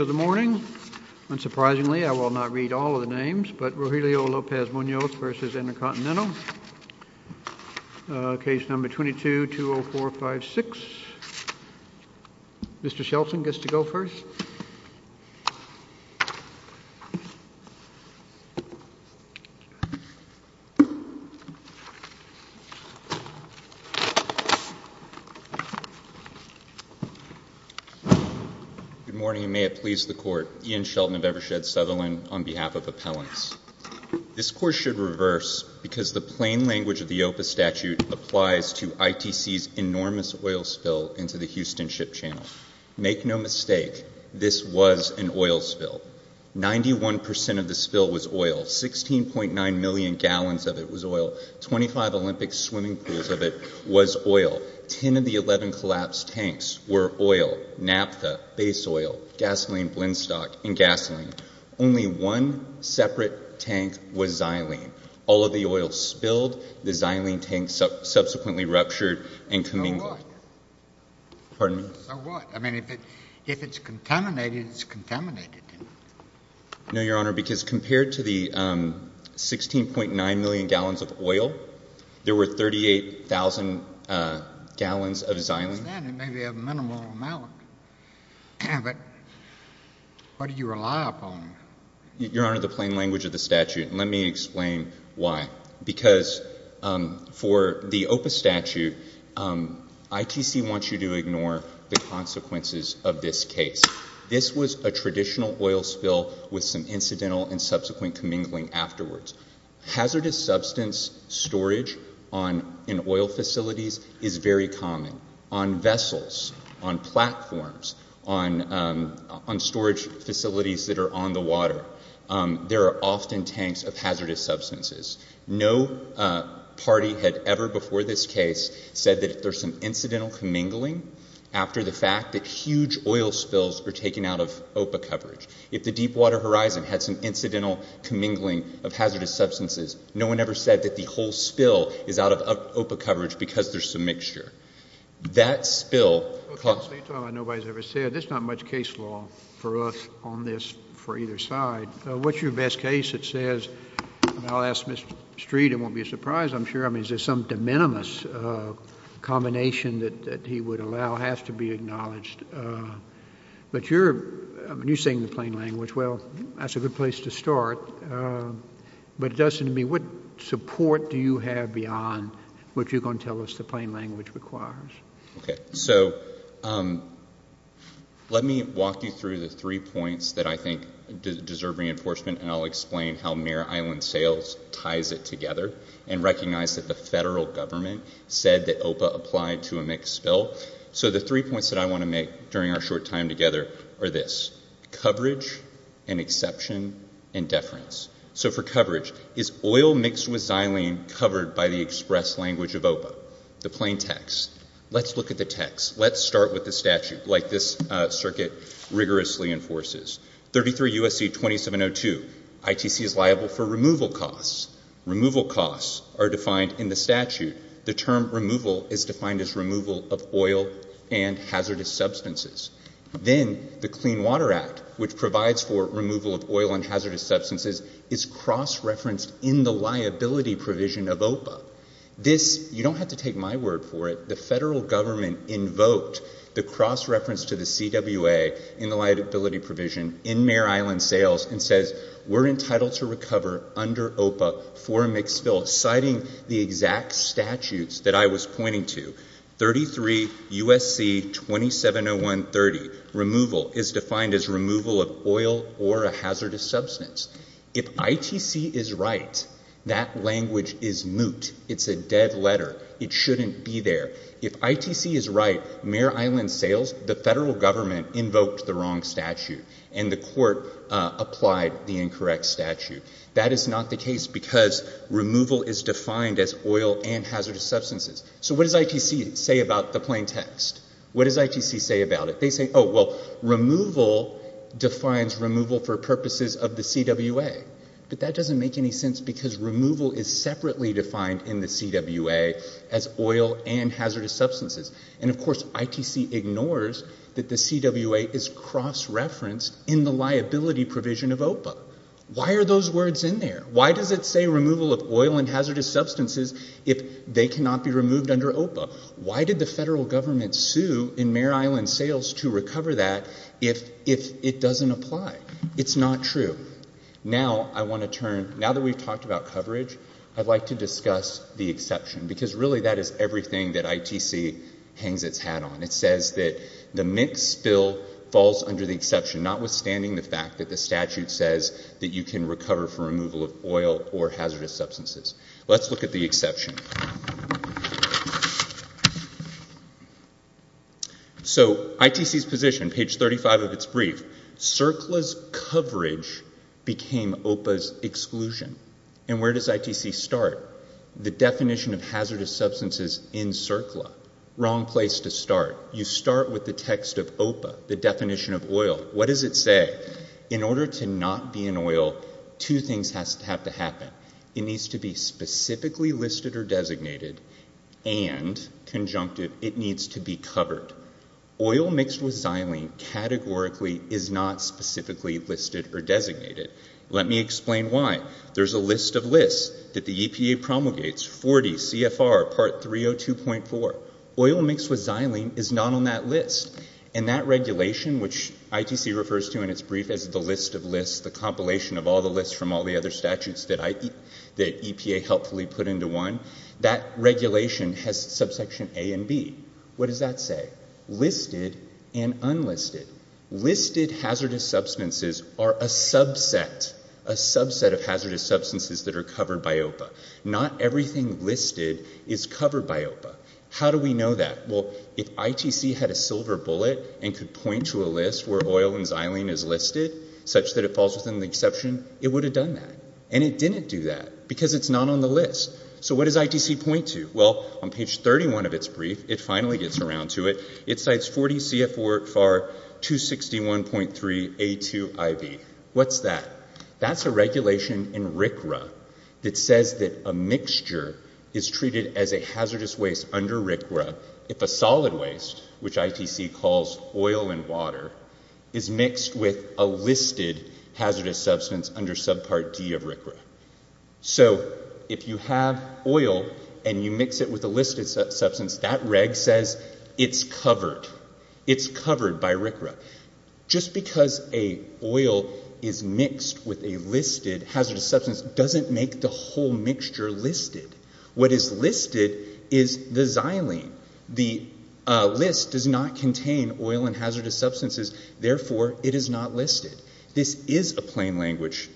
of the morning. Unsurprisingly, I will not read all of the names, but Rogelio Lopez Munoz v. Intercontinental, case number 22-20456. Mr. Shelton gets to go first. Good morning, and may it please the Court. Ian Shelton of Evershed Sutherland on behalf of Appellants. This Court should reverse because the plain language of the OPA statute applies to ITC's enormous oil spill into the Houston Ship Channel. Make no mistake, this was an oil spill. Ninety-one percent of the spill was oil. Sixteen point nine million gallons of it was oil. Twenty-five Olympic swimming pools of it was oil. Ten of the eleven collapsed tanks were oil, naphtha, base oil, gasoline, blendstock, and gasoline. Only one separate tank was xylene. All of the oil spilled, the xylene tank subsequently ruptured, and coming— Or what? Pardon me? Or what? I mean, if it's contaminated, it's contaminated. No, Your Honor, because compared to the sixteen point nine million gallons of oil, there were thirty-eight thousand gallons of xylene. I understand. It may be a minimal amount. But what do you rely upon? Your Honor, the plain language of the statute. And let me explain why. Because for the OPA statute, ITC wants you to ignore the consequences of this case. This was a traditional oil spill with some incidental and subsequent commingling afterwards. Hazardous substance storage in oil facilities is very common. On vessels, on platforms, on storage facilities that are on the water, there are often tanks of hazardous substances. No party had ever before this case said that if there's some incidental commingling after the fact that huge oil spills are taken out of OPA coverage. If the Deepwater Horizon had some incidental commingling of hazardous substances, no one ever said that the whole spill is out of OPA coverage because there's some mixture. That spill— Well, counsel, you talk about nobody's ever said. There's not much case law for us on this for either side. What's your best case that says—and I'll ask Mr. Street. It won't be a surprise, I'm sure. I mean, is there some de minimis combination that he would allow, has to be acknowledged. But you're—I mean, you're saying the plain language. Well, that's a good place to start. But it does seem to me, what support do you have beyond what you're going to tell us the plain language requires? Okay. So, let me walk you through the three points that I think deserve reinforcement and I'll explain how Mir Island Sales ties it together and recognize that the federal government said that OPA applied to a mixed spill. So the three points that I want to make during our short time together are this. Coverage, an exception, and deference. So for coverage, is oil mixed with xylene covered by the express language of OPA? The plain text. Let's look at the text. Let's start with the statute, like this circuit rigorously enforces. 33 U.S.C. 2702, ITC is liable for removal costs. Removal costs are defined in the statute. The term removal is defined as removal of oil and hazardous substances. Then the Clean Water Act, which provides for removal of oil and hazardous substances, is cross-referenced in the liability provision of OPA. This, you don't have to take my word for it, the federal government invoked the cross-reference to the CWA in the liability provision in Mir Island Sales and says we're entitled to recover under OPA for a mixed spill, citing the exact statutes that I was pointing to. 33 U.S.C. 2701.30, removal is defined as removal of right. That language is moot. It's a dead letter. It shouldn't be there. If ITC is right, Mir Island Sales, the federal government invoked the wrong statute, and the court applied the incorrect statute. That is not the case because removal is defined as oil and hazardous substances. So what does ITC say about the plain text? What does ITC say about it? They say, oh well, removal defines removal for purposes of the CWA. But that doesn't make any sense because removal is separately defined in the CWA as oil and hazardous substances. And of course, ITC ignores that the CWA is cross-referenced in the liability provision of OPA. Why are those words in there? Why does it say removal of oil and hazardous substances if they cannot be removed under OPA? Why did the federal government sue in Mir Island Sales to recover that if it doesn't apply? It's not true. Now I want to turn, now that we've talked about coverage, I'd like to discuss the exception because really that is everything that ITC hangs its hat on. It says that the mixed bill falls under the exception, notwithstanding the fact that the statute says that you can recover for removal of oil or hazardous substances. In page 35 of its brief, CERCLA's coverage became OPA's exclusion. And where does ITC start? The definition of hazardous substances in CERCLA. Wrong place to start. You start with the text of OPA, the definition of oil. What does it say? In order to not be an oil, two things have to happen. It needs to be specifically listed or designated and conjunctive, it needs to be covered. Oil mixed with xylene categorically is not specifically listed or designated. Let me explain why. There's a list of lists that the EPA promulgates, 40 CFR part 302.4. Oil mixed with xylene is not on that list. And that regulation, which ITC refers to in its brief as the list of lists, the compilation of all the lists from all the other statutes that EPA helpfully put into one, that regulation has subsection A and B. What does that say? Listed and unlisted. Listed hazardous substances are a subset, a subset of hazardous substances that are covered by OPA. Not everything listed is covered by OPA. How do we know that? Well, if ITC had a silver bullet and could point to a list where oil and xylene is listed, such that it falls within the exception, it would have done that. And it didn't do that because it's not on the list. So what does ITC point to? Well, on page 31 of its brief, it finally gets around to it, it cites 40 CFR 261.3A2IV. What's that? That's a regulation in RCRA that says that a mixture is treated as a hazardous waste under RCRA if a solid waste, which ITC calls oil and water, is mixed with a listed hazardous substance under subpart D of RCRA. So if you have oil and you mix it with a listed substance, that reg says it's covered. It's covered by RCRA. Just because a oil is mixed with a listed hazardous substance doesn't make the whole mixture listed. What is listed is the xylene. The list does not contain oil and hazardous substances, therefore it is not listed. This is a plain language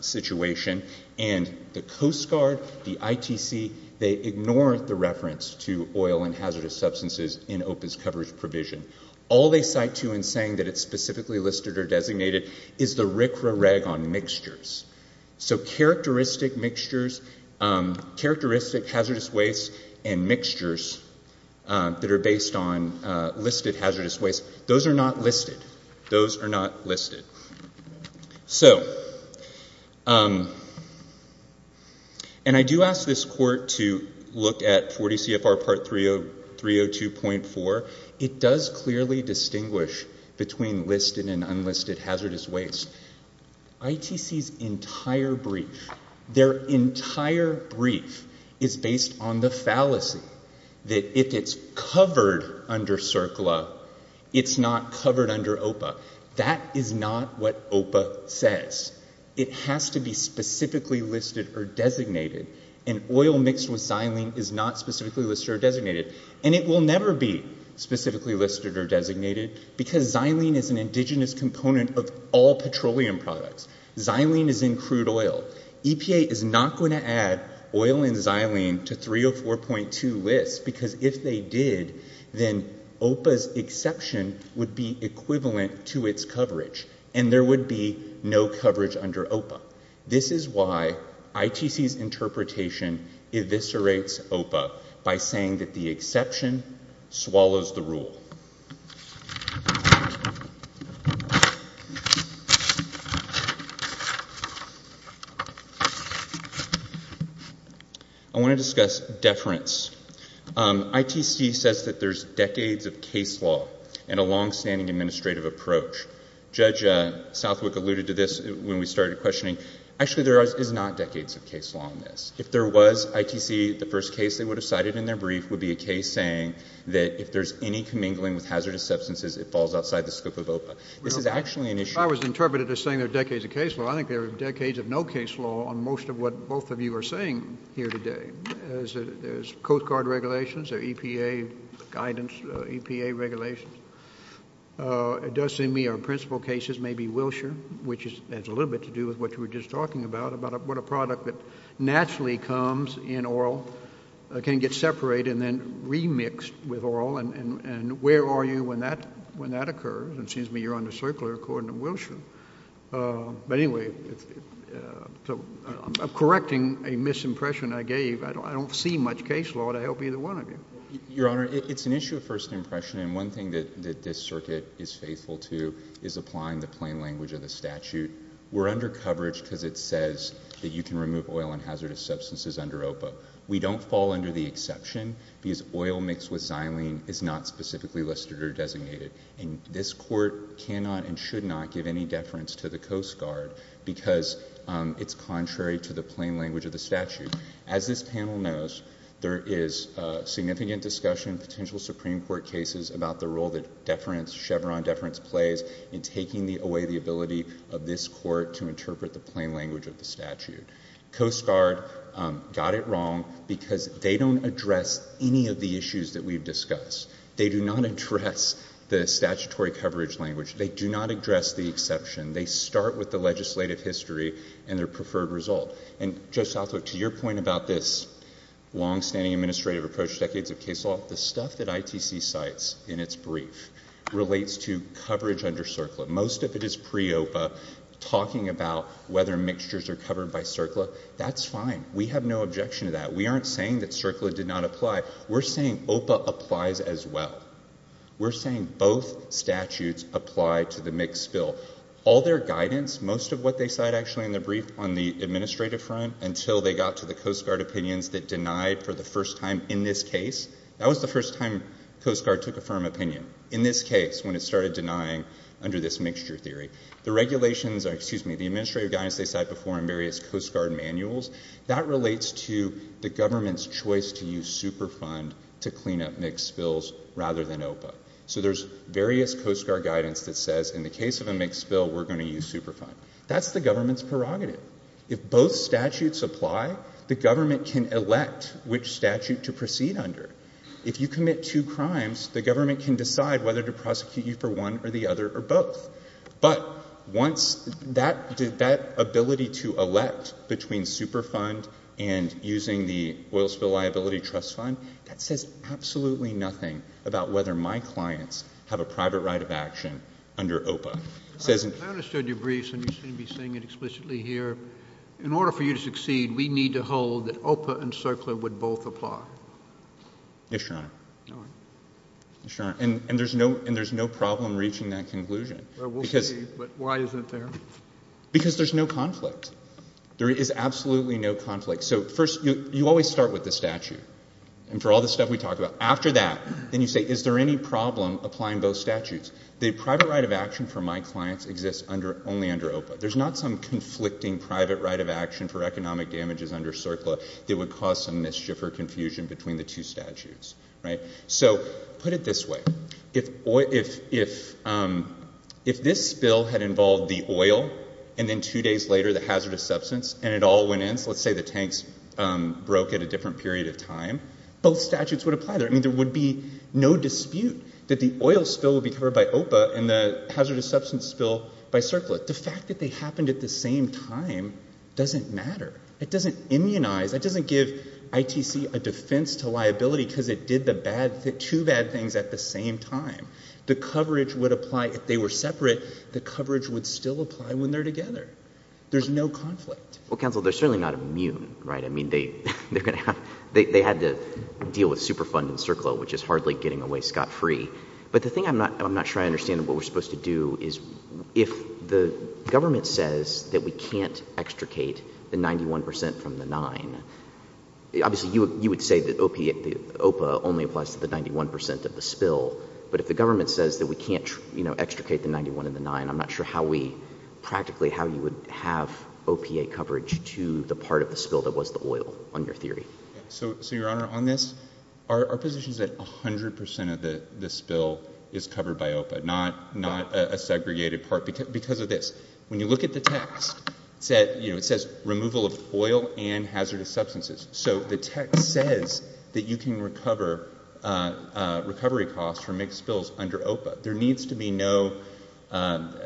situation, and the Coast Guard, the ITC, they ignore the reference to oil and hazardous substances in OPA's coverage provision. All they cite to in saying that it's specifically listed or designated is the RCRA reg on mixtures. So characteristic hazardous wastes and mixtures that are based on listed hazardous wastes, those are not listed. Those are not listed. So, and I do ask this court to look at 40 between listed and unlisted hazardous wastes. ITC's entire brief, their entire brief is based on the fallacy that if it's covered under RCRA, it's not covered under OPA. That is not what OPA says. It has to be specifically listed or designated, and oil mixed with xylene is not specifically listed or designated. And it will never be specifically listed or designated because xylene is an indigenous component of all petroleum products. Xylene is in crude oil. EPA is not going to add oil and xylene to 304.2 lists because if they did, then OPA's exception would be equivalent to its coverage, and there would be no coverage under OPA. This is why ITC's interpretation eviscerates OPA by saying that the exception swallows the rule. I want to discuss deference. ITC says that there's decades of case law and a longstanding administrative approach. Judge Southwick alluded to this when we started questioning. Actually, there is not decades of case law in this. If there was ITC, the first case they would have cited in their brief would be a case saying that if there's any commingling with hazardous substances, it falls outside the scope of OPA. This is actually an issue... I was interpreted as saying there are decades of case law. I think there are decades of no case law on most of what both of you are saying here today. There's Coast Guard regulations, EPA guidance, EPA regulations. It does seem to me our principal cases may be Wilshire, which has a little bit to do with what you were just talking about, about what a product that naturally comes in oral can get separated and then remixed with oral, and where are you when that occurs? It seems to me you're on the circular according to Wilshire. Anyway, correcting a misimpression I gave, I don't see much case law to help either one of you. Your Honor, it's an issue of first impression, and one thing that this circuit is faithful to is applying the plain language of the statute. We're under coverage because it says that you can remove oil and hazardous substances under OPA. We don't fall under the exception because oil mixed with xylene is not specifically listed or designated. This Court cannot and should not give any deference to the Coast Guard because it's contrary to the plain language of the statute. As this panel knows, there is significant discussion, potential Supreme Court cases, about the role that Chevron deference plays in taking away the ability of this Court to interpret the plain language of the statute. Coast Guard got it wrong because they don't address any of the issues that we've discussed. They do not address the statutory coverage language. They do not address the exception. They start with the legislative history and their preferred result. And, Judge Southwick, to your point about this longstanding administrative approach decades of case law, the stuff that ITC cites in its brief relates to coverage under CERCLA. Most of it is pre-OPA, talking about whether mixtures are covered by CERCLA. That's fine. We have no objection to that. We aren't saying that CERCLA did not apply. We're saying OPA applies as well. We're saying both statutes apply to the mixed bill. All their guidance, most of what they cite actually in the brief on the administrative front until they got to the Coast Guard opinions that denied for the first time in this case, that started denying under this mixture theory. The regulations, excuse me, the administrative guidance they cite before in various Coast Guard manuals, that relates to the government's choice to use Superfund to clean up mixed bills rather than OPA. So there's various Coast Guard guidance that says in the case of a mixed bill, we're going to use Superfund. That's the government's prerogative. If both statutes apply, the government can elect which statute to proceed under. If you commit two crimes, the government can decide whether to prosecute you for one or the other or both. But once that did that ability to elect between Superfund and using the Oil Spill Liability Trust Fund, that says absolutely nothing about whether my clients have a private right of action under OPA. I understood your briefs and you seem to be saying it explicitly here. In order for you to succeed, we need to hold that OPA and CERCLA would both apply. Yes, Your Honor. All right. Yes, Your Honor. And there's no problem reaching that conclusion. Well, we'll see. But why isn't there? Because there's no conflict. There is absolutely no conflict. So first, you always start with the statute. And for all the stuff we talked about, after that, then you say, is there any problem applying both statutes? The private right of action for my clients exists only under OPA. There's not some conflicting private right of action for economic damages under CERCLA that would cause some mischief or confusion between the two statutes, right? So put it this way. If this spill had involved the oil and then two days later the hazardous substance and it all went in, so let's say the tanks broke at a different period of time, both statutes would apply there. I mean, there would be no dispute that the oil spill would be covered by OPA and the hazardous substance spill by CERCLA. The fact that they happened at the same time doesn't matter. It doesn't immunize. It doesn't give ITC a defense to liability because it did the bad — two bad things at the same time. The coverage would apply if they were separate. The coverage would still apply when they're together. There's no conflict. Well, counsel, they're certainly not immune, right? I mean, they're going to have — they had to deal with Superfund and CERCLA, which is hardly getting away scot-free. But the thing I'm not — I'm not sure I understand what we're supposed to do is if the government says that we can't extricate the 91 percent from the 9. Obviously, you would say that OPA only applies to the 91 percent of the spill, but if the government says that we can't extricate the 91 and the 9, I'm not sure how we — practically how you would have OPA coverage to the part of the spill that was the oil, on your theory. So, Your Honor, on this, our position is that 100 percent of the spill is covered by OPA, not a segregated part, because of this. When you look at the text, it says removal of oil and hazardous substances. So the text says that you can recover recovery costs for mixed spills under OPA. There needs to be no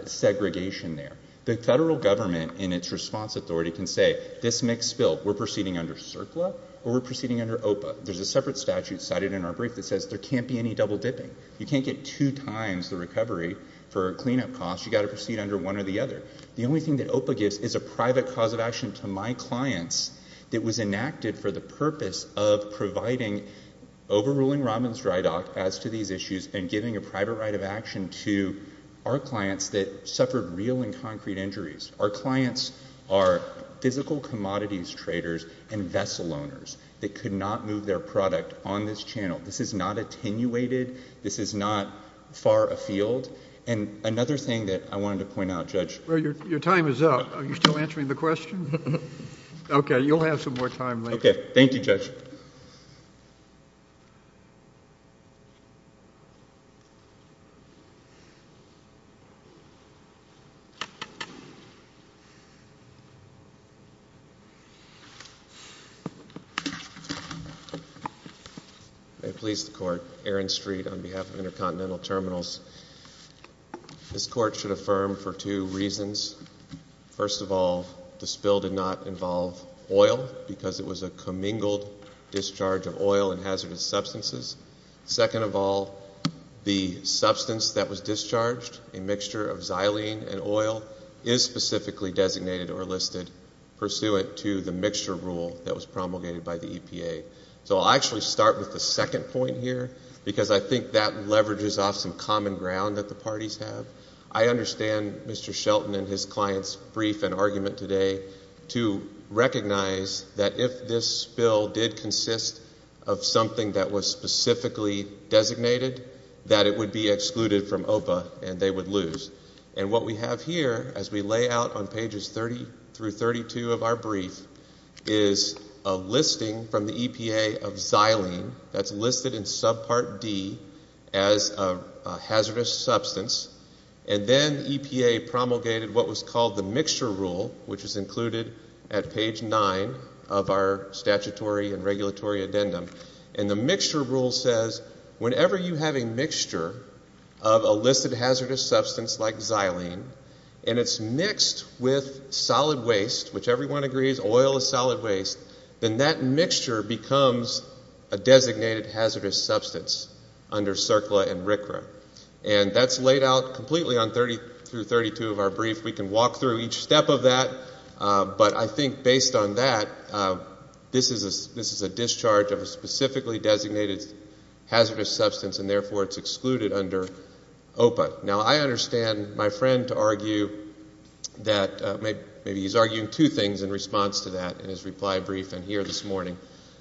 segregation there. The federal government in its response authority can say, this mixed spill, we're proceeding under CERCLA or we're proceeding under OPA. There's a separate statute cited in our brief that says there can't be any double dipping. You can't get two times the recovery for cleanup costs. You've got to proceed under one or the other. The only thing that OPA gives is a private cause of action to my clients that was enacted for the purpose of providing — overruling Robbins Dry Dock as to these issues and giving a private right of action to our clients that suffered real and concrete injuries. Our clients are physical commodities traders and vessel owners that could not move their This is not attenuated. This is not far afield. And another thing that I wanted to point out, Judge — Well, your time is up. Are you still answering the question? Okay. You'll have some more time later. Okay. Thank you, Judge. May it please the Court, Aaron Street on behalf of Intercontinental Terminals. This Court should affirm for two reasons. First of all, the spill did not involve oil because it was a commingled discharge of oil and hazardous substances. Second of all, the substance that was discharged, a mixture of xylene and oil, is specifically designated or listed pursuant to the mixture rule that was promulgated by the EPA. So I'll actually start with the second point here because I think that leverages off some common ground that the parties have. I understand Mr. Shelton and his client's brief and argument today to recognize that if this spill did consist of something that was specifically designated, that it would be excluded from OPA and they would lose. And what we have here, as we lay out on pages 30 through 32 of our brief, is a listing from the EPA of xylene that's listed in subpart D as a hazardous substance. And then EPA promulgated what was called the mixture rule, which is included at page 9 of our statutory and regulatory addendum. And the mixture rule says whenever you have a mixture of a listed hazardous substance like xylene and it's mixed with solid waste, which everyone agrees oil is solid waste, then that mixture becomes a designated hazardous substance under CERCLA and RCRA. And that's laid out completely on 30 through 32 of our brief. We can walk through each step of that. But I think based on that, this is a discharge of a specifically designated hazardous substance and therefore it's excluded under OPA. Now, I understand my friend to argue that maybe he's arguing two things in response to that in his reply briefing here this morning.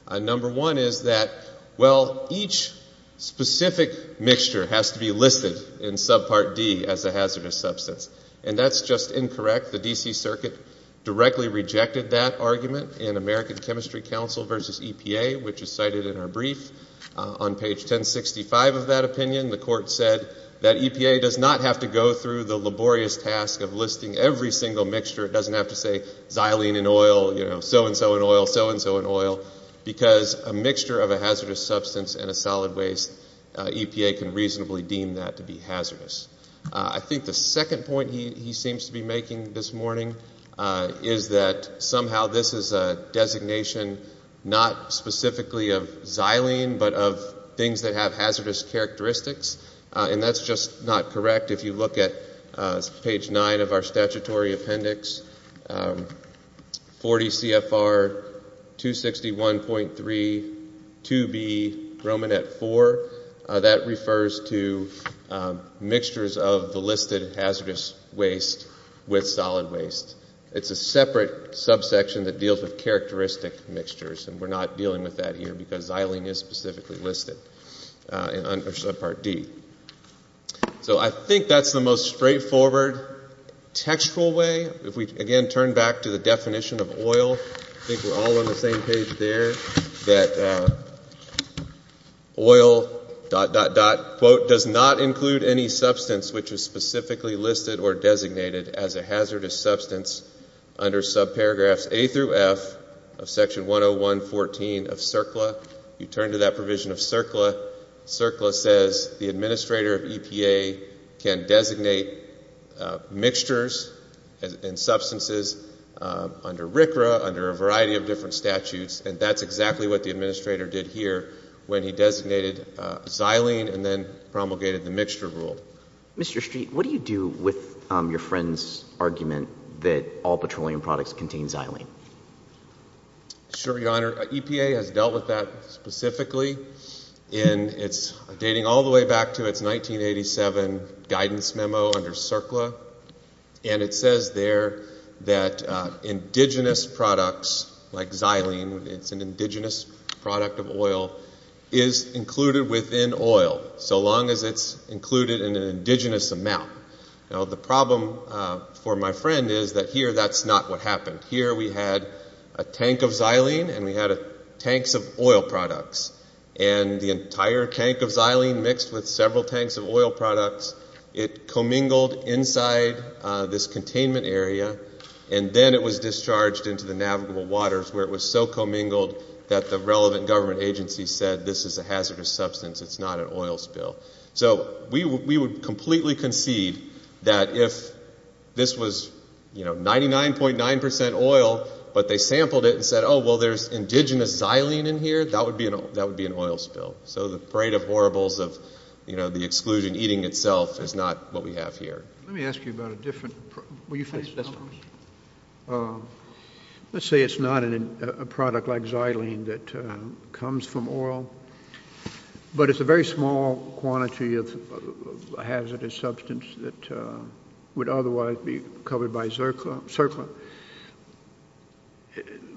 Number one is that, well, each specific mixture has to be listed in subpart D as a hazardous substance. And that's just incorrect. The D.C. Circuit directly rejected that argument in American Chemistry Council versus EPA, which is cited in our brief. On page 1065 of that opinion, the court said that EPA does not have to go through the laborious task of listing every single mixture. It doesn't have to say xylene and oil, you know, so-and-so and oil, so-and-so and oil, because a mixture of a hazardous substance and a solid waste, EPA can reasonably deem that to be hazardous. I think the second point he seems to be making this morning is that somehow this is a designation not specifically of xylene but of things that have hazardous characteristics, and that's just not correct. If you look at page 9 of our statutory appendix, 40 CFR 261.3 2B Romanet 4, that refers to mixtures of the listed hazardous waste with solid waste. It's a separate subsection that deals with characteristic mixtures, and we're not dealing with that here because xylene is specifically listed under subpart D. So I think that's the most straightforward textual way. If we again turn back to the definition of oil, I think we're all on the same page there, that oil, dot, dot, dot, quote, does not include any substance which is specifically listed or designated as a hazardous substance under subparagraphs A through F of Section 101.14 of CERCLA. You turn to that provision of CERCLA, CERCLA says the administrator of EPA can designate mixtures and substances under RCRA, under a variety of different statutes, and that's exactly what the administrator did here when he designated xylene and then promulgated the mixture rule. Mr. Street, what do you do with your friend's argument that all petroleum products contain xylene? Sure, Your Honor. EPA has dealt with that specifically in its, dating all the way back to its 1987 guidance memo under CERCLA, and it says there that indigenous products like xylene, it's an indigenous product of oil, is included within oil so long as it's included in an indigenous amount. Now, the problem for my friend is that here that's not what happened. Here we had a tank of xylene and we had tanks of oil products, and the entire tank of xylene mixed with several tanks of oil products, it commingled inside this containment area, and then it was discharged into the navigable waters where it was so commingled that the relevant government agency said, this is a hazardous substance, it's not an oil spill. So we would completely concede that if this was 99.9% oil but they sampled it and said, oh, well, there's indigenous xylene in here, that would be an oil spill. So the parade of horribles of the exclusion eating itself is not what we have here. Let me ask you about a different problem. Let's say it's not a product like xylene that comes from oil, but it's a very small quantity of hazardous substance that would otherwise be covered by zircon.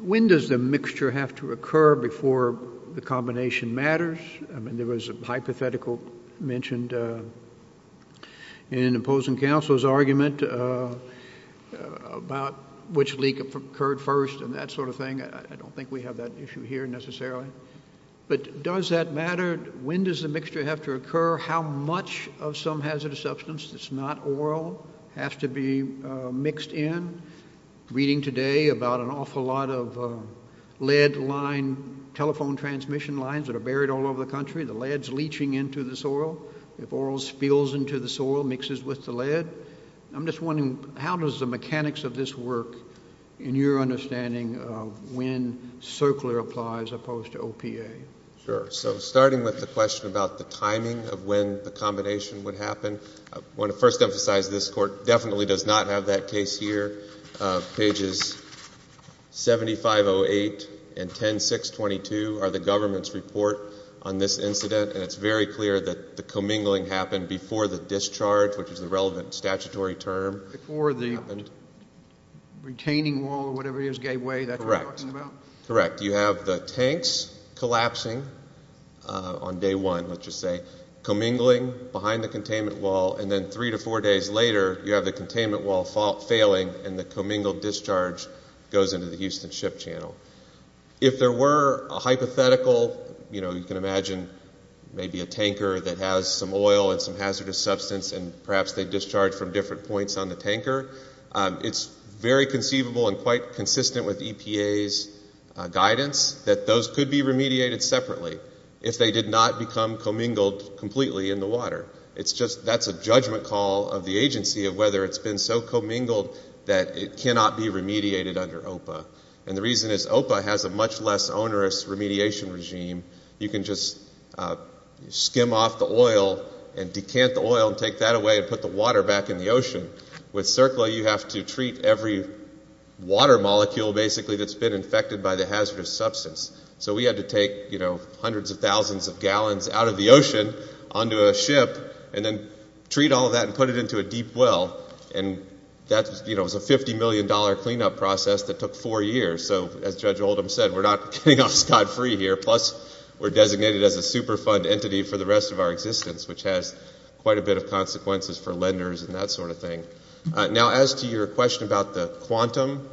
When does the mixture have to occur before the combination matters? I mean, there was a hypothetical mentioned in opposing counsel's argument about which leak occurred first and that sort of thing. I don't think we have that issue here necessarily. But does that matter? When does the mixture have to occur? How much of some hazardous substance that's not oil has to be mixed in? I'm reading today about an awful lot of lead line telephone transmission lines that are buried all over the country. The lead is leaching into the soil. If oil spills into the soil, mixes with the lead. I'm just wondering how does the mechanics of this work in your understanding of when circular applies opposed to OPA? Sure. So starting with the question about the timing of when the combination would happen, I want to first emphasize this court definitely does not have that case here. Pages 7508 and 10622 are the government's report on this incident, and it's very clear that the commingling happened before the discharge, which is the relevant statutory term. Before the retaining wall or whatever it is gave way, that's what you're talking about? Correct. You have the tanks collapsing on day one, let's just say, commingling behind the containment wall, and then three to four days later you have the containment wall failing and the commingled discharge goes into the Houston ship channel. If there were a hypothetical, you know, you can imagine maybe a tanker that has some oil and some hazardous substance and perhaps they discharge from different points on the tanker, it's very conceivable and quite consistent with EPA's guidance that those could be remediated separately. If they did not become commingled completely in the water. That's a judgment call of the agency of whether it's been so commingled that it cannot be remediated under OPA. And the reason is OPA has a much less onerous remediation regime. You can just skim off the oil and decant the oil and take that away and put the water back in the ocean. With CERCLA you have to treat every water molecule basically that's been infected by the hazardous substance. So we had to take, you know, hundreds of thousands of gallons out of the ocean onto a ship and then treat all of that and put it into a deep well. And that, you know, was a $50 million cleanup process that took four years. So as Judge Oldham said, we're not getting off scot-free here. Plus we're designated as a super fund entity for the rest of our existence, which has quite a bit of consequences for lenders and that sort of thing. Now as to your question about the quantum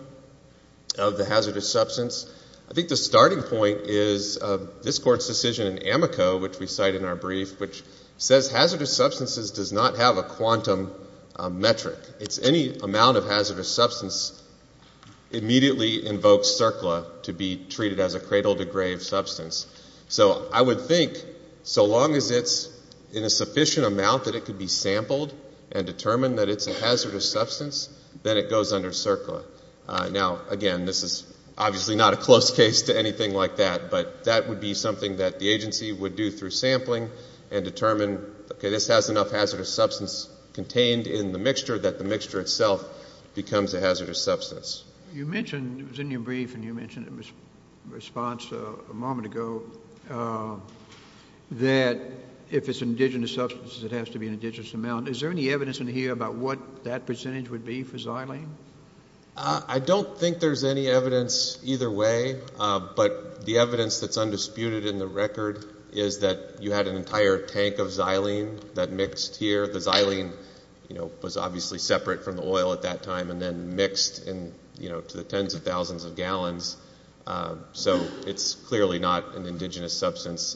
of the hazardous substance, I think the starting point is this Court's decision in Amico, which we cite in our brief, which says hazardous substances does not have a quantum metric. It's any amount of hazardous substance immediately invokes CERCLA to be treated as a cradle-to-grave substance. So I would think so long as it's in a sufficient amount that it could be sampled and determined that it's a hazardous substance, then it goes under CERCLA. Now, again, this is obviously not a close case to anything like that, but that would be something that the agency would do through sampling and determine, okay, this has enough hazardous substance contained in the mixture that the mixture itself becomes a hazardous substance. You mentioned, it was in your brief and you mentioned it in response a moment ago, that if it's an indigenous substance, it has to be an indigenous amount. Is there any evidence in here about what that percentage would be for xylene? I don't think there's any evidence either way, but the evidence that's undisputed in the record is that you had an entire tank of xylene that mixed here. The xylene was obviously separate from the oil at that time and then mixed to the tens of thousands of gallons. So it's clearly not an indigenous substance.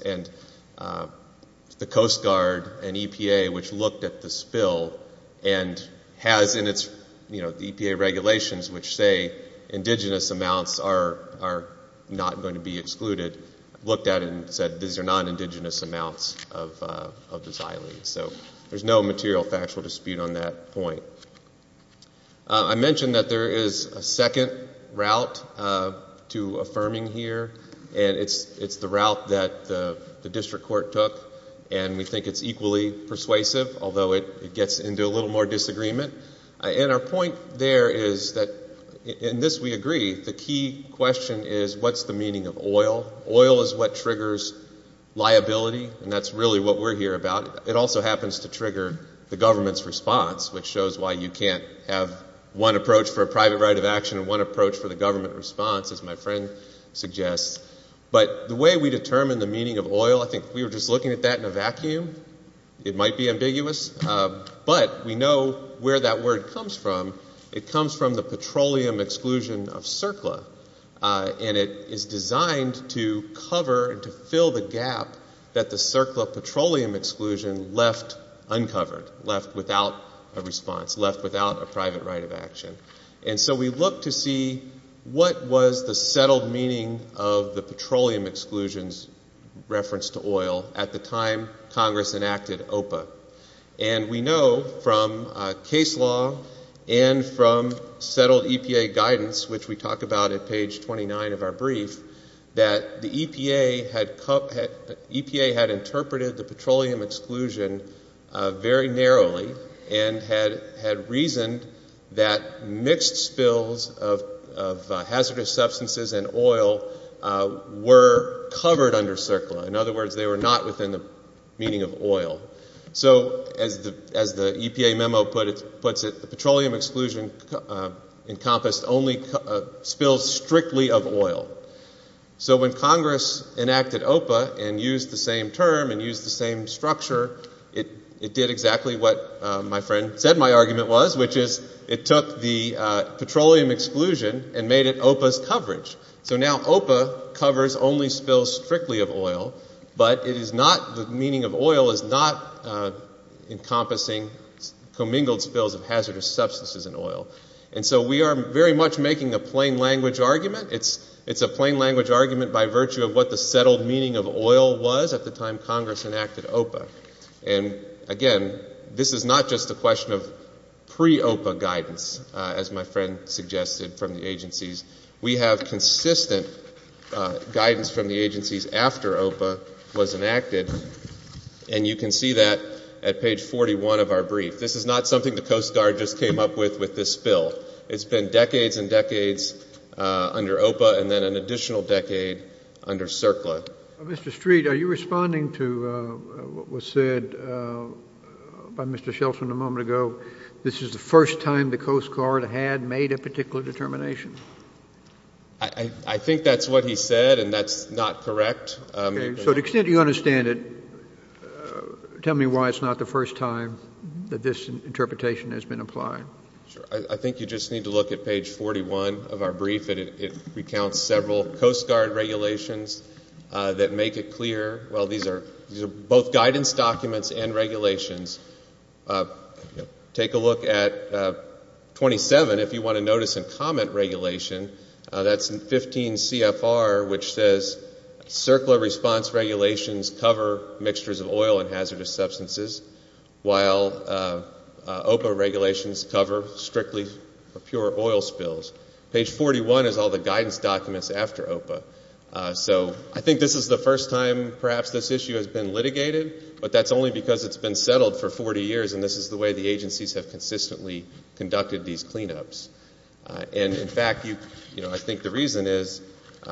The Coast Guard and EPA, which looked at the spill and has in its EPA regulations, which say indigenous amounts are not going to be excluded, looked at it and said these are non-indigenous amounts of the xylene. So there's no material factual dispute on that point. I mentioned that there is a second route to affirming here, and it's the route that the district court took, and we think it's equally persuasive, although it gets into a little more disagreement. And our point there is that in this we agree the key question is what's the meaning of oil? Oil is what triggers liability, and that's really what we're here about. It also happens to trigger the government's response, which shows why you can't have one approach for a private right of action and one approach for the government response, as my friend suggests. But the way we determine the meaning of oil, I think if we were just looking at that in a vacuum, it might be ambiguous. But we know where that word comes from. It comes from the petroleum exclusion of CERCLA, and it is designed to cover and to fill the gap that the CERCLA petroleum exclusion left uncovered, left without a response, left without a private right of action. And so we look to see what was the settled meaning of the petroleum exclusion's reference to oil at the time Congress enacted OPA. And we know from case law and from settled EPA guidance, which we talk about at page 29 of our brief, that the EPA had interpreted the petroleum exclusion very narrowly and had reasoned that mixed spills of hazardous substances and oil were covered under CERCLA. In other words, they were not within the meaning of oil. So as the EPA memo puts it, the petroleum exclusion encompassed only spills strictly of oil. So when Congress enacted OPA and used the same term and used the same structure, it did exactly what my friend said my argument was, which is it took the petroleum exclusion and made it OPA's coverage. So now OPA covers only spills strictly of oil, but it is not, the meaning of oil is not encompassing commingled spills of hazardous substances and oil. And so we are very much making a plain language argument. It's a plain language argument by virtue of what the settled meaning of oil was at the time Congress enacted OPA. And, again, this is not just a question of pre-OPA guidance, as my friend suggested, from the agencies. We have consistent guidance from the agencies after OPA was enacted. And you can see that at page 41 of our brief. This is not something the Coast Guard just came up with with this bill. It's been decades and decades under OPA and then an additional decade under CERCLA. Mr. Street, are you responding to what was said by Mr. Shelford a moment ago, this is the first time the Coast Guard had made a particular determination? I think that's what he said, and that's not correct. So to the extent you understand it, tell me why it's not the first time that this interpretation has been applied. Sure. I think you just need to look at page 41 of our brief. It recounts several Coast Guard regulations that make it clear, well, these are both guidance documents and regulations. Take a look at 27 if you want to notice and comment regulation. That's 15 CFR, which says CERCLA response regulations cover mixtures of oil and hazardous substances, while OPA regulations cover strictly pure oil spills. Page 41 is all the guidance documents after OPA. So I think this is the first time perhaps this issue has been litigated, but that's only because it's been settled for 40 years, and this is the way the agencies have consistently conducted these cleanups. And, in fact, you know, I think the reason is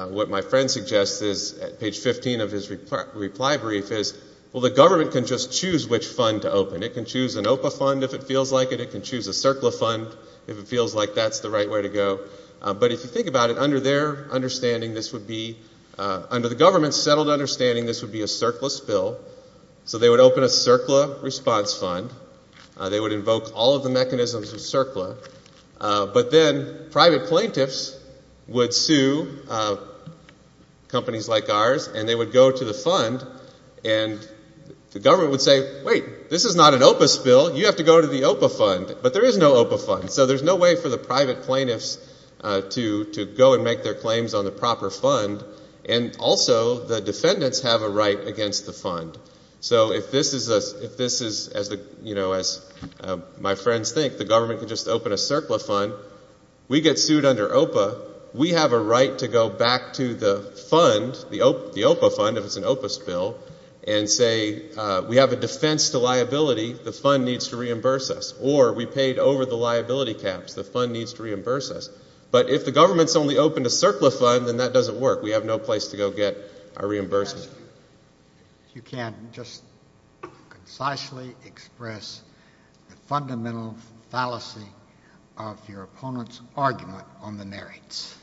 what my friend suggests is at page 15 of his reply brief is, well, the government can just choose which fund to open. It can choose an OPA fund if it feels like it. It can choose a CERCLA fund if it feels like that's the right way to go. But if you think about it, under their understanding this would be, under the government's settled understanding this would be a CERCLA spill. So they would open a CERCLA response fund. They would invoke all of the mechanisms of CERCLA. But then private plaintiffs would sue companies like ours, and they would go to the fund, and the government would say, wait, this is not an OPA spill. You have to go to the OPA fund. But there is no OPA fund, so there's no way for the private plaintiffs to go and make their claims on the proper fund. So if this is, as my friends think, the government can just open a CERCLA fund, we get sued under OPA. We have a right to go back to the fund, the OPA fund if it's an OPA spill, and say we have a defense to liability. The fund needs to reimburse us. Or we paid over the liability caps. The fund needs to reimburse us. But if the government's only opened a CERCLA fund, then that doesn't work. We have no place to go get our reimbursement. If you can, just concisely express the fundamental fallacy of your opponent's argument on the merits.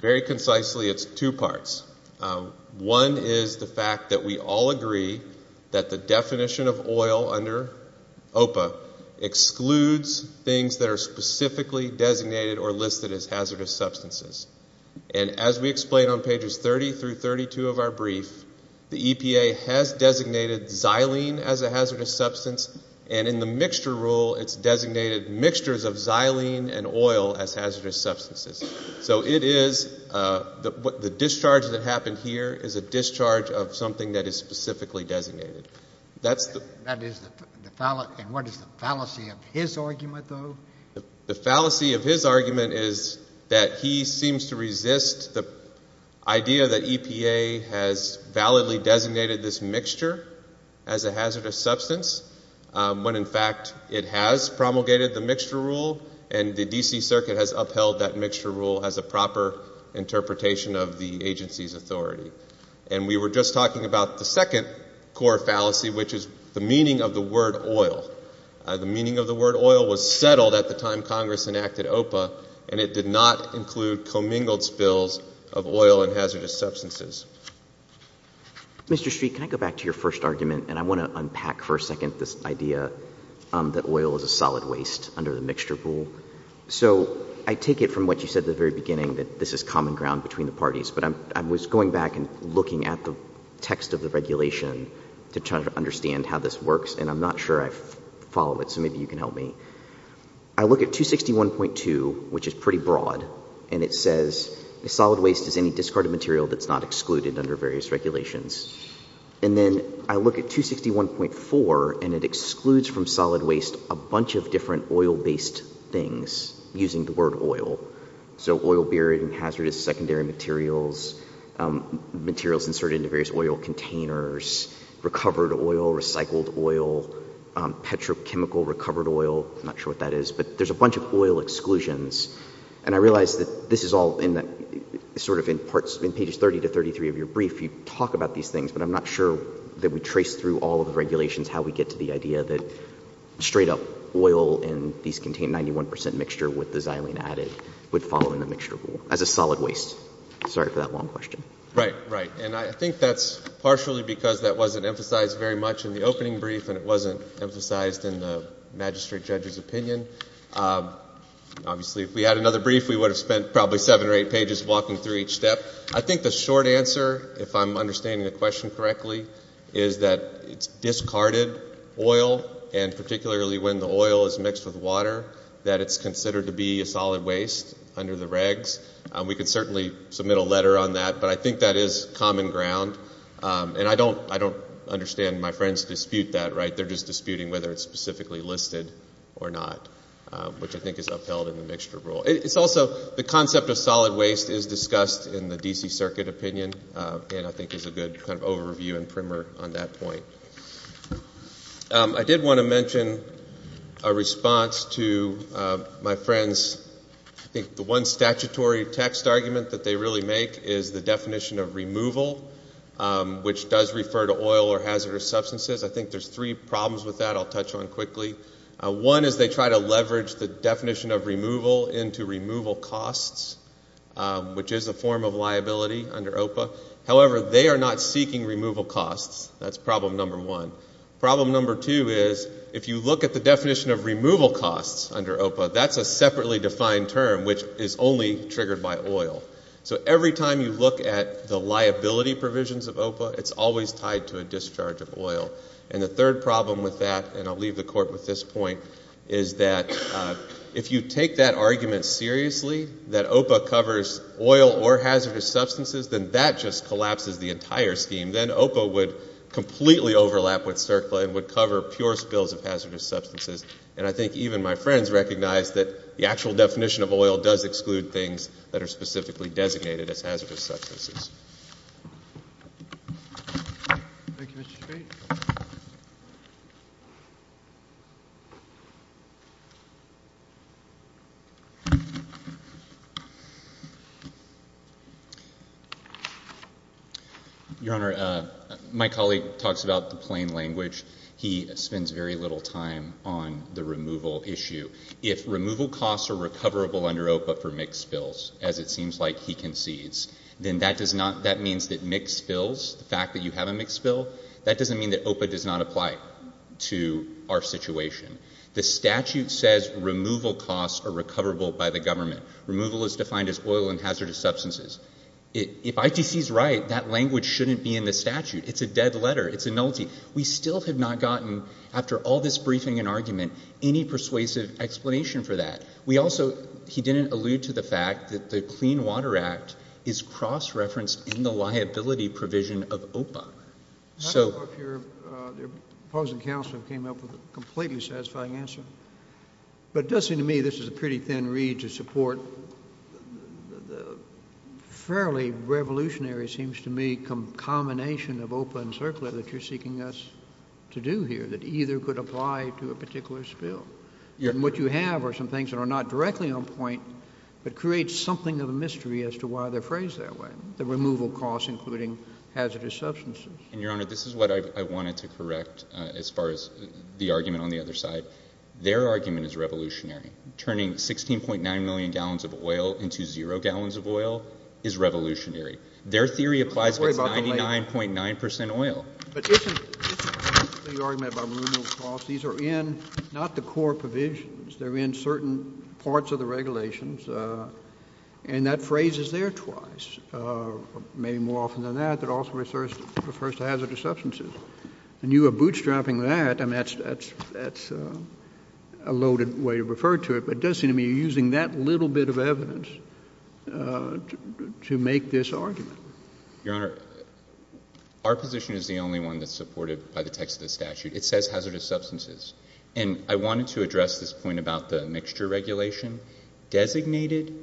Very concisely, it's two parts. One is the fact that we all agree that the definition of oil under OPA excludes things that are specifically designated or listed as hazardous substances. And as we explain on pages 30 through 32 of our brief, the EPA has designated xylene as a hazardous substance, and in the mixture rule, it's designated mixtures of xylene and oil as hazardous substances. So it is the discharge that happened here is a discharge of something that is specifically designated. That is the fallacy. And what is the fallacy of his argument, though? The fallacy of his argument is that he seems to resist the idea that EPA has validly designated this mixture as a hazardous substance, when, in fact, it has promulgated the mixture rule, and the D.C. Circuit has upheld that mixture rule as a proper interpretation of the agency's authority. And we were just talking about the second core fallacy, which is the meaning of the word oil. The meaning of the word oil was settled at the time Congress enacted OPA, and it did not include commingled spills of oil and hazardous substances. Mr. Street, can I go back to your first argument? And I want to unpack for a second this idea that oil is a solid waste under the mixture rule. So I take it from what you said at the very beginning, that this is common ground between the parties, but I was going back and looking at the text of the regulation to try to understand how this works, and I'm not sure I follow it, so maybe you can help me. I look at 261.2, which is pretty broad, and it says a solid waste is any discarded material that's not excluded under various regulations. And then I look at 261.4, and it excludes from solid waste a bunch of different oil-based things using the word oil. So oil-buried and hazardous secondary materials, materials inserted into various oil containers, recovered oil, recycled oil, petrochemical recovered oil. I'm not sure what that is, but there's a bunch of oil exclusions. And I realize that this is all in that sort of in parts, in pages 30 to 33 of your brief, you talk about these things, but I'm not sure that we trace through all of the regulations how we get to the idea that straight-up oil and these contain 91 percent mixture with the xylene added would fall in the mixture rule as a solid waste. Sorry for that long question. Right, right. And I think that's partially because that wasn't emphasized very much in the opening brief and it wasn't emphasized in the magistrate judge's opinion. Obviously, if we had another brief, we would have spent probably seven or eight pages walking through each step. I think the short answer, if I'm understanding the question correctly, is that it's discarded oil, and particularly when the oil is mixed with water, that it's considered to be a solid waste under the regs. We could certainly submit a letter on that, but I think that is common ground. And I don't understand my friends dispute that, right? They're just disputing whether it's specifically listed or not, which I think is upheld in the mixture rule. It's also the concept of solid waste is discussed in the D.C. Circuit opinion and I think is a good kind of overview and primer on that point. I did want to mention a response to my friends. I think the one statutory text argument that they really make is the definition of removal, which does refer to oil or hazardous substances. I think there's three problems with that I'll touch on quickly. One is they try to leverage the definition of removal into removal costs, which is a form of liability under OPA. However, they are not seeking removal costs. That's problem number one. Problem number two is if you look at the definition of removal costs under OPA, that's a separately defined term, which is only triggered by oil. So every time you look at the liability provisions of OPA, it's always tied to a discharge of oil. And the third problem with that, and I'll leave the court with this point, is that if you take that argument seriously, that OPA covers oil or hazardous substances, then that just collapses the entire scheme. Then OPA would completely overlap with CERCLA and would cover pure spills of hazardous substances. And I think even my friends recognize that the actual definition of oil does exclude things that are specifically designated as hazardous substances. Your Honor, my colleague talks about the plain language. He spends very little time on the removal issue. If removal costs are recoverable under OPA for mixed spills, as it seems like he concedes, that means that mixed spills, the fact that you have a mixed spill, that doesn't mean that OPA does not apply to our situation. The statute says removal costs are recoverable by the government. Removal is defined as oil and hazardous substances. If ITC is right, that language shouldn't be in the statute. It's a dead letter. It's a nullity. We still have not gotten, after all this briefing and argument, any persuasive explanation for that. He didn't allude to the fact that the Clean Water Act is cross-referenced in the liability provision of OPA. I don't know if your opposing counsel came up with a completely satisfying answer. But it does seem to me this is a pretty thin reed to support the fairly revolutionary, it seems to me, combination of OPA and CERCLA that you're seeking us to do here, that either could apply to a particular spill. And what you have are some things that are not directly on point, but create something of a mystery as to why they're phrased that way, the removal costs including hazardous substances. And, Your Honor, this is what I wanted to correct as far as the argument on the other side. Their argument is revolutionary. Turning 16.9 million gallons of oil into zero gallons of oil is revolutionary. Their theory applies if it's 99.9 percent oil. But isn't the argument about removal costs, these are in not the core provisions. They're in certain parts of the regulations. And that phrase is there twice, maybe more often than that, that also refers to hazardous substances. And you are bootstrapping that. I mean, that's a loaded way to refer to it. But it does seem to me you're using that little bit of evidence to make this argument. Your Honor, our position is the only one that's supported by the text of the statute. It says hazardous substances. And I wanted to address this point about the mixture regulation. Designated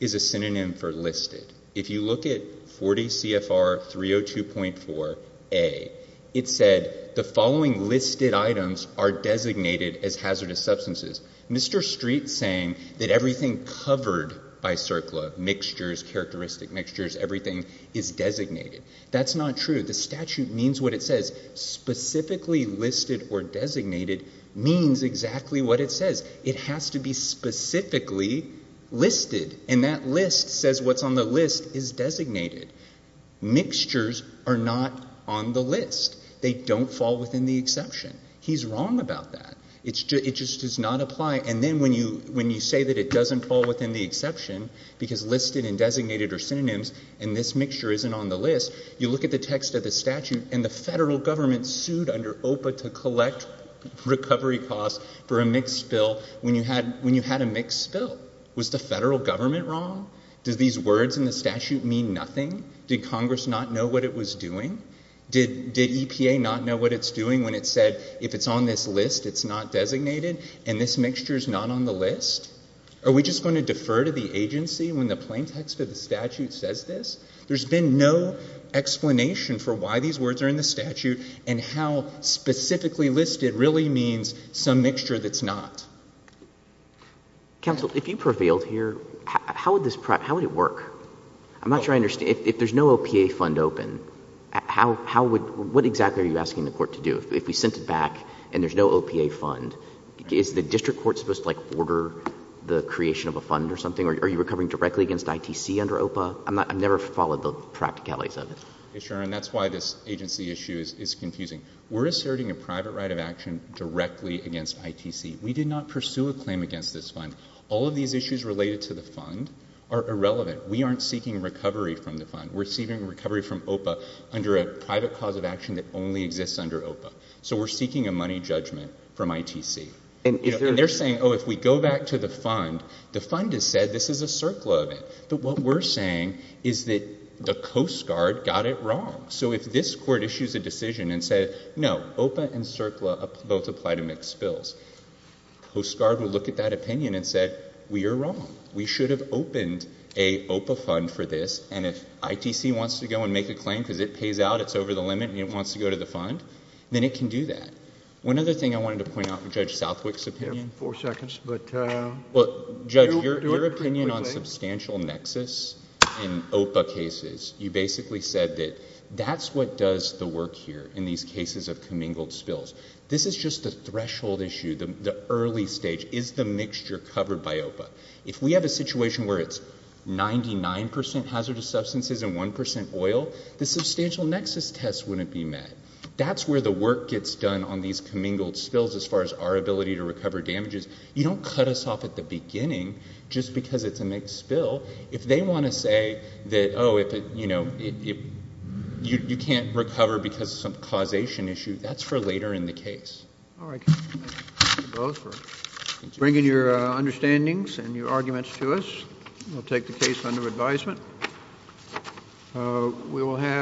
is a synonym for listed. If you look at 40 CFR 302.4a, it said the following listed items are designated as hazardous substances. Mr. Street's saying that everything covered by CERCLA, mixtures, characteristic mixtures, everything is designated. That's not true. The statute means what it says. Specifically listed or designated means exactly what it says. It has to be specifically listed. And that list says what's on the list is designated. Mixtures are not on the list. They don't fall within the exception. He's wrong about that. It just does not apply. And then when you say that it doesn't fall within the exception because listed and designated are synonyms and this mixture isn't on the list, you look at the text of the statute and the federal government sued under OPA to collect recovery costs for a mixed spill when you had a mixed spill. Was the federal government wrong? Did these words in the statute mean nothing? Did Congress not know what it was doing? Did EPA not know what it's doing when it said if it's on this list it's not designated and this mixture is not on the list? Are we just going to defer to the agency when the plain text of the statute says this? There's been no explanation for why these words are in the statute and how specifically listed really means some mixture that's not. Counsel, if you prevailed here, how would this work? I'm not sure I understand. If there's no OPA fund open, what exactly are you asking the court to do? If we sent it back and there's no OPA fund, is the district court supposed to order the creation of a fund or something? Are you recovering directly against ITC under OPA? I've never followed the practicalities of it. Sure, and that's why this agency issue is confusing. We're asserting a private right of action directly against ITC. We did not pursue a claim against this fund. All of these issues related to the fund are irrelevant. We aren't seeking recovery from the fund. We're seeking recovery from OPA under a private cause of action that only exists under OPA. So we're seeking a money judgment from ITC. And they're saying, oh, if we go back to the fund, the fund has said this is a CERCLA event. But what we're saying is that the Coast Guard got it wrong. So if this court issues a decision and says, no, OPA and CERCLA both apply to mixed bills, Coast Guard will look at that opinion and say, we are wrong. We should have opened a OPA fund for this. And if ITC wants to go and make a claim because it pays out, it's over the limit, and it wants to go to the fund, then it can do that. One other thing I wanted to point out in Judge Southwick's opinion. Four seconds. Judge, your opinion on substantial nexus in OPA cases, you basically said that that's what does the work here in these cases of commingled spills. This is just a threshold issue, the early stage. Is the mixture covered by OPA? If we have a situation where it's 99% hazardous substances and 1% oil, the substantial nexus test wouldn't be met. That's where the work gets done on these commingled spills as far as our ability to recover damages. You don't cut us off at the beginning just because it's a mixed spill. If they want to say that, oh, you can't recover because of some causation issue, that's for later in the case. All right. Thank you both for bringing your understandings and your arguments to us. We'll take the case under advisement. We will have